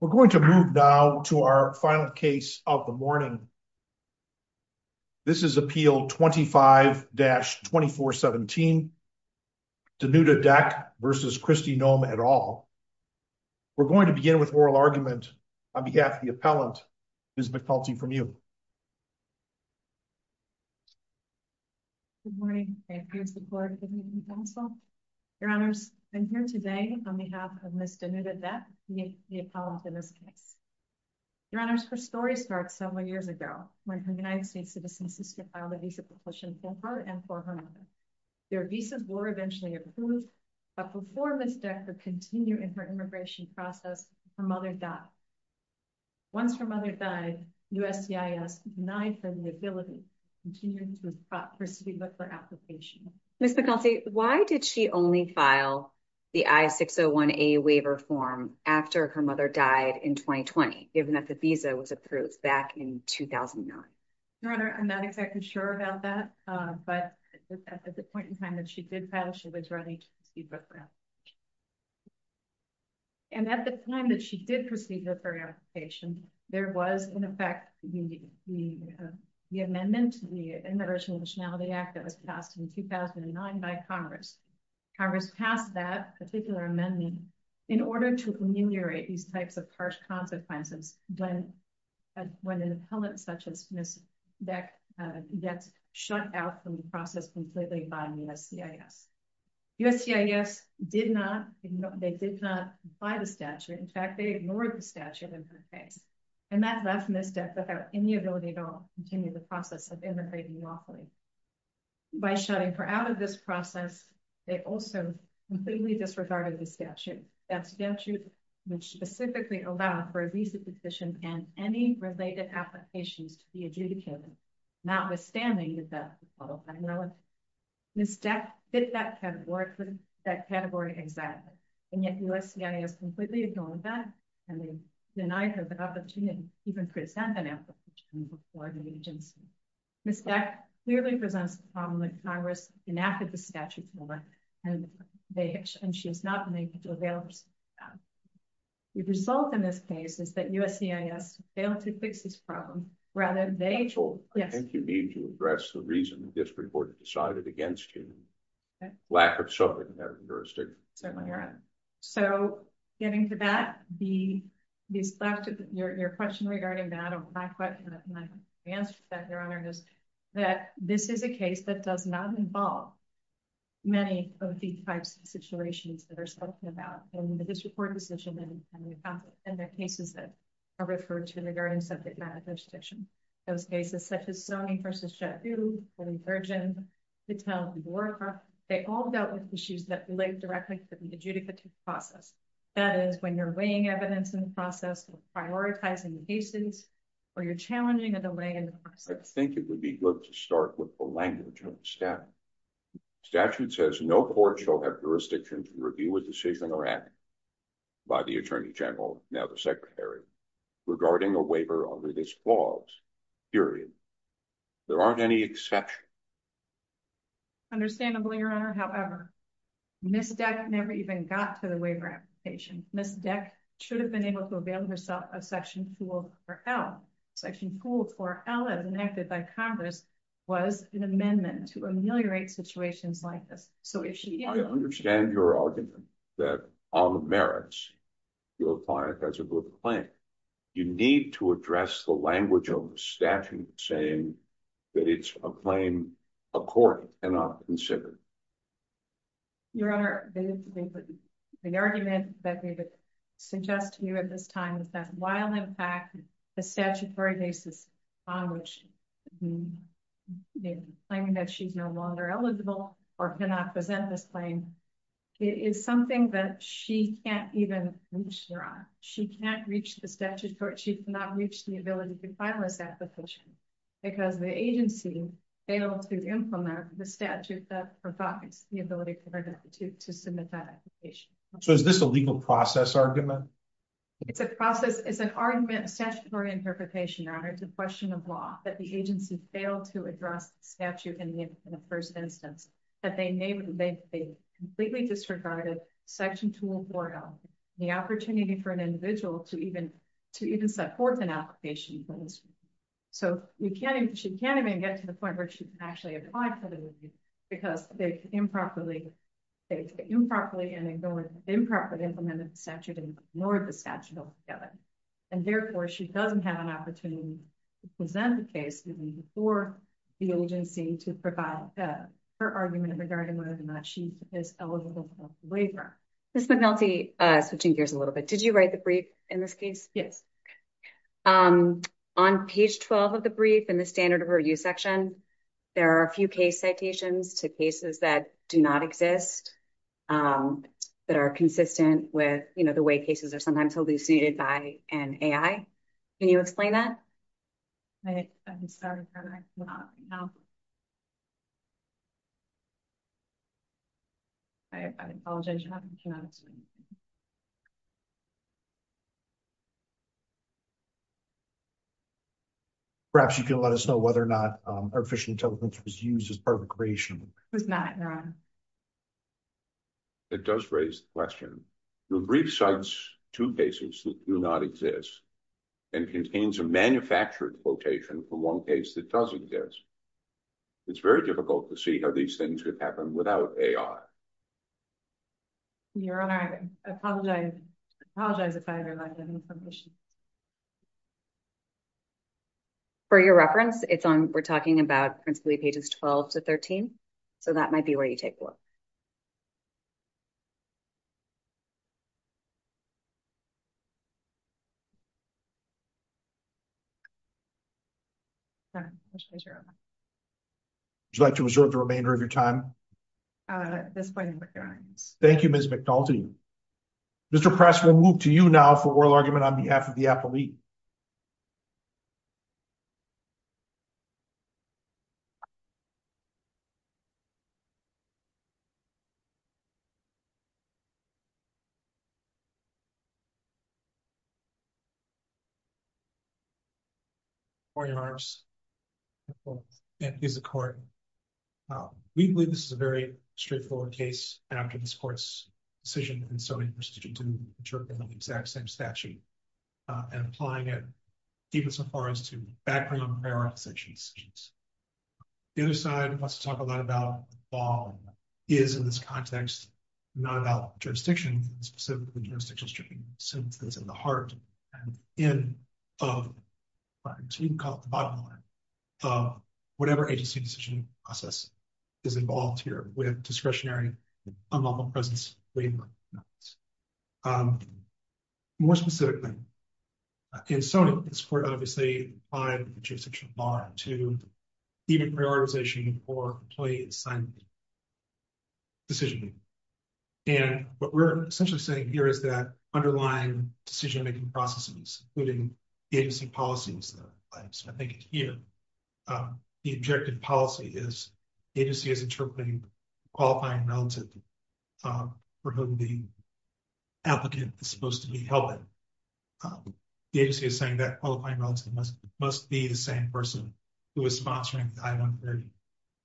We're going to move now to our final case of the morning. This is Appeal 25-2417, Denuta Dec v. Kristi Noem et al. We're going to begin with oral argument on behalf of the appellant, Ms. McPelty, from you. Good morning. Thank you for your support of the meeting, counsel. Your Honors, I'm here today on behalf of Ms. Denuta Dec, the appellant in this case. Your Honors, her story starts several years ago when her United States citizen sister filed a visa proposal for her and for her mother. Their visas were eventually approved, but before Ms. Dec could continue in her immigration process, her mother died. Once her mother died, USCIS denied her the ability to continue with her speedbook application. Ms. McPelty, why did she only file the I-601A waiver form after her mother died in 2020, given that the visa was approved back in 2009? Your Honor, I'm not exactly sure about that, but at the point in time that she did file, she was ready to proceed with her application. And at the time that she did proceed with her application, there was, in effect, the amendment, the Immigration and Nationality Act that was passed in 2009 by Congress. Congress passed that particular amendment in order to ameliorate these types of harsh consequences when an appellant such as Ms. Dec gets shut out from the process completely by USCIS. USCIS did not, they did not apply the statute. In fact, they ignored the statute in her case. And that left Ms. Dec without any ability at all to continue the process of immigrating lawfully. By shutting her out of this process, they also completely disregarded the statute. That statute would specifically allow for a visa petition and any related applications to be adjudicated, notwithstanding that Ms. Dec fit that category exactly. And yet USCIS completely ignored that, and they denied her the opportunity to even present an application before the agency. Ms. Dec clearly presents a problem that Congress enacted the statute for, and she was not able to avail herself of that. The result in this case is that USCIS failed to fix this problem. Rather, they chose- I think you mean to address the reason the district court decided against you. Lack of suffering in that jurisdiction. Certainly, Your Honor. So getting to that, your question regarding that, my answer to that, Your Honor, is that this is a case that does not involve many of the types of situations that are spoken about in the district court decision and the cases that are referred to in the jurisdiction. Those cases such as Sonny v. Chateau, Herring-Burgin, Patel v. Warcraft, they all dealt with issues that relate directly to the adjudicative process. That is, when you're weighing evidence in the process, you're prioritizing the cases, or you're challenging a delay in the process. I think it would be good to start with the language of the statute. The statute says, no court shall have jurisdiction to review a decision or act by the Attorney General, now the Secretary, regarding a waiver under this clause, period. There aren't any exceptions. Understandably, Your Honor, however, Ms. Deck never even got to the waiver application. Ms. Deck should have been able to avail herself of Section 24L. Section 24L, as enacted by Congress, was an amendment to ameliorate situations like this. I understand your argument that on the merits, you'll apply it as a good claim. You need to address the language of the statute saying that it's a claim a court cannot consider. Your Honor, the argument that we would suggest to you at this time is that while, in fact, the statutory basis on which the claim that she's no longer eligible or cannot present this claim is something that she can't even reach, Your Honor. She can't reach the statute court. She cannot reach the ability to file this application because the agency failed to implement the statute that provides the ability for the deputy to submit that application. So is this a legal process argument? It's a process. It's an argument, statutory interpretation, Your Honor. It's a question of law that the agency failed to address the statute in the first instance that they completely disregarded Section 24L, the opportunity for an individual to even support an application. So she can't even get to the point where she can actually apply for the statute. And therefore, she doesn't have an opportunity to present the case before the agency to provide her argument regarding whether or not she is eligible for the waiver. Ms. McNulty, switching gears a little bit. Did you write the brief in this case? Yes. On page 12 of the brief in the standard of review section, there are a few case citations to cases that do not exist that are consistent with the way they're sometimes elucidated by an AI. Can you explain that? I'm sorry. Perhaps you can let us know whether or not artificial intelligence was used as part of the creation. It was not, Your Honor. It does raise the question. The brief cites two cases that do not exist and contains a manufactured quotation for one case that does exist. It's very difficult to see how these things could happen without AI. Your Honor, I apologize if I interrupted you on some issues. For your reference, it's on, we're talking about principally pages 12 to 13, so that might be where you take a look. Would you like to reserve the remainder of your time? At this point, Your Honor. Thank you, Ms. McNulty. Mr. Press, we'll move to you now for oral argument on behalf of the court. Before you, Your Honors, and please, the court, we believe this is a very straightforward case, and I'm giving this court's decision and so interested in interpreting the exact same statute and applying it, deepest and farthest, to background and prioritization decisions. The other side wants to talk a lot about the law is, in this context, not about jurisdiction, specifically jurisdiction-stricken sentences in the heart and end of, you can call it the bottom line, of whatever agency decision process is involved here with discretionary, unlawful presence, labor. More specifically, in Sony, this court obviously applied the jurisdiction law to even prioritization for employee assignment decision-making. And what we're essentially saying here is that underlying decision-making processes, including agency policies that are in place, I think it's here, the objective policy is agency is interpreting qualifying relative for whom the applicant is supposed to be helping. The agency is saying that qualifying relative must be the same person who is sponsoring the I-130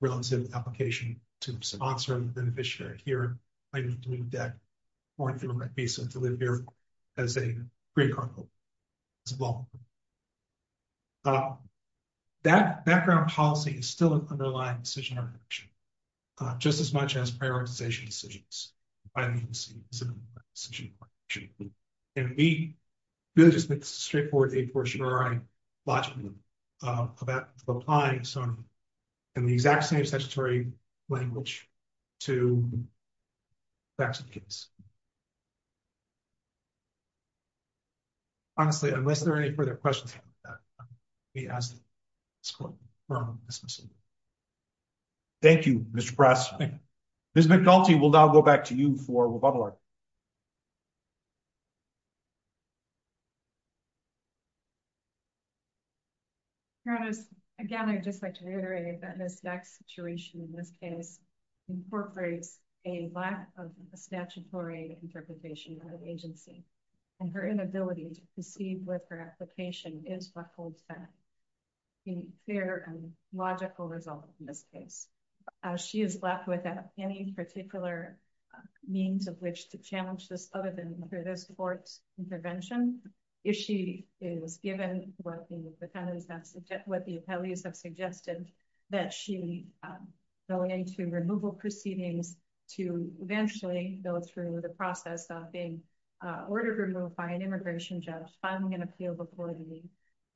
relative application to sponsor the beneficiary. Here, I need to move that foreign government visa to live here as a green card holder as well. That background policy is still an underlying decision architecture, just as much as prioritization decisions. I mean, this is a decision architecture. And we really just make this straightforward, a fortiori, logically, about applying Sony in the exact same statutory language to facts of the case. Honestly, unless there are any further questions, let me ask this question from Ms. Massimo. Thank you, Mr. Press. Ms. McDulty, we'll now go back to you for rebuttal argument. Again, I'd just like to reiterate that this next situation, in this case, incorporates a lack of a statutory interpretation of agency, and her inability to proceed with her application is what holds back a fair and logical result in this case. She is left without any particular means of which to challenge this other than through this court's intervention. If she is given what the defendants have, what the appellees have suggested, that she go into removal proceedings to eventually go through the process of being ordered removed by an immigration judge, filing an appeal before the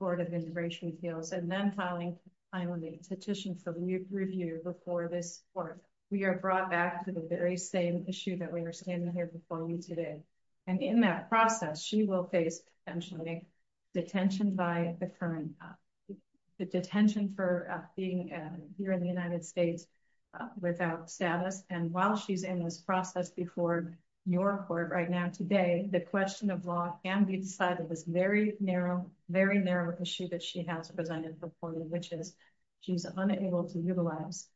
Board of Immigration Appeals, and then filing, finally, a petition for review before this court, we are brought back to the very same issue that we were standing here before you today. And in that process, she will face, potentially, detention by the current, the detention for being here in the United States without status. And while she's in this process before your court right now today, the question of law can be decided with this very narrow, very narrow issue that she has presented before you, which is she's unable to utilize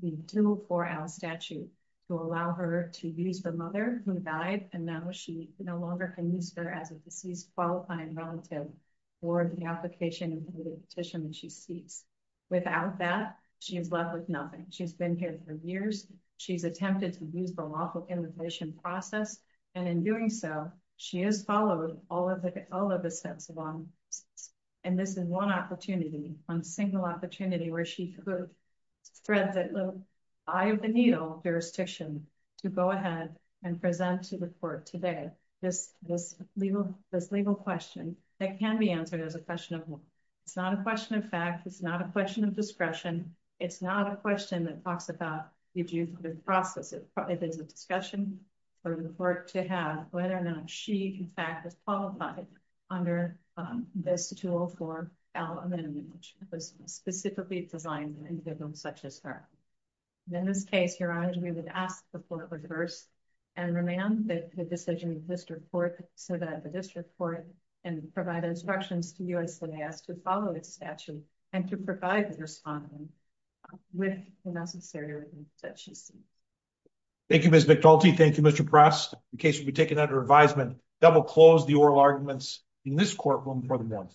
the dual 4L statute to allow her to use the mother who died, and now she no longer can use her as a deceased qualifying relative for the application and the petition that she seeks. Without that, she is left with nothing. She's been here for years. She's attempted to use the lawful immigration process, and in doing so, she has followed all of the steps along. And this is one opportunity, one single opportunity where she could thread the eye of the needle jurisdiction to go ahead and present to the court today this legal question that can be answered as a question of law. It's not a question of fact. It's not a question of discretion. It's not a question that talks about the process. It is a discussion for the court to have whether or not she, in fact, is qualified under this 204-L amendment, which was specifically designed for individuals such as her. In this case, your honor, we would ask the court to reverse and remand the decision of the district court so that the district court can provide instructions to U.S. Senate to follow its statute and to provide the respondent with the necessary that she seeks. Thank you, Ms. McDulty. Thank you, Mr. Prest. The case will be taken under advisement. That will close the oral arguments in this courtroom for the month.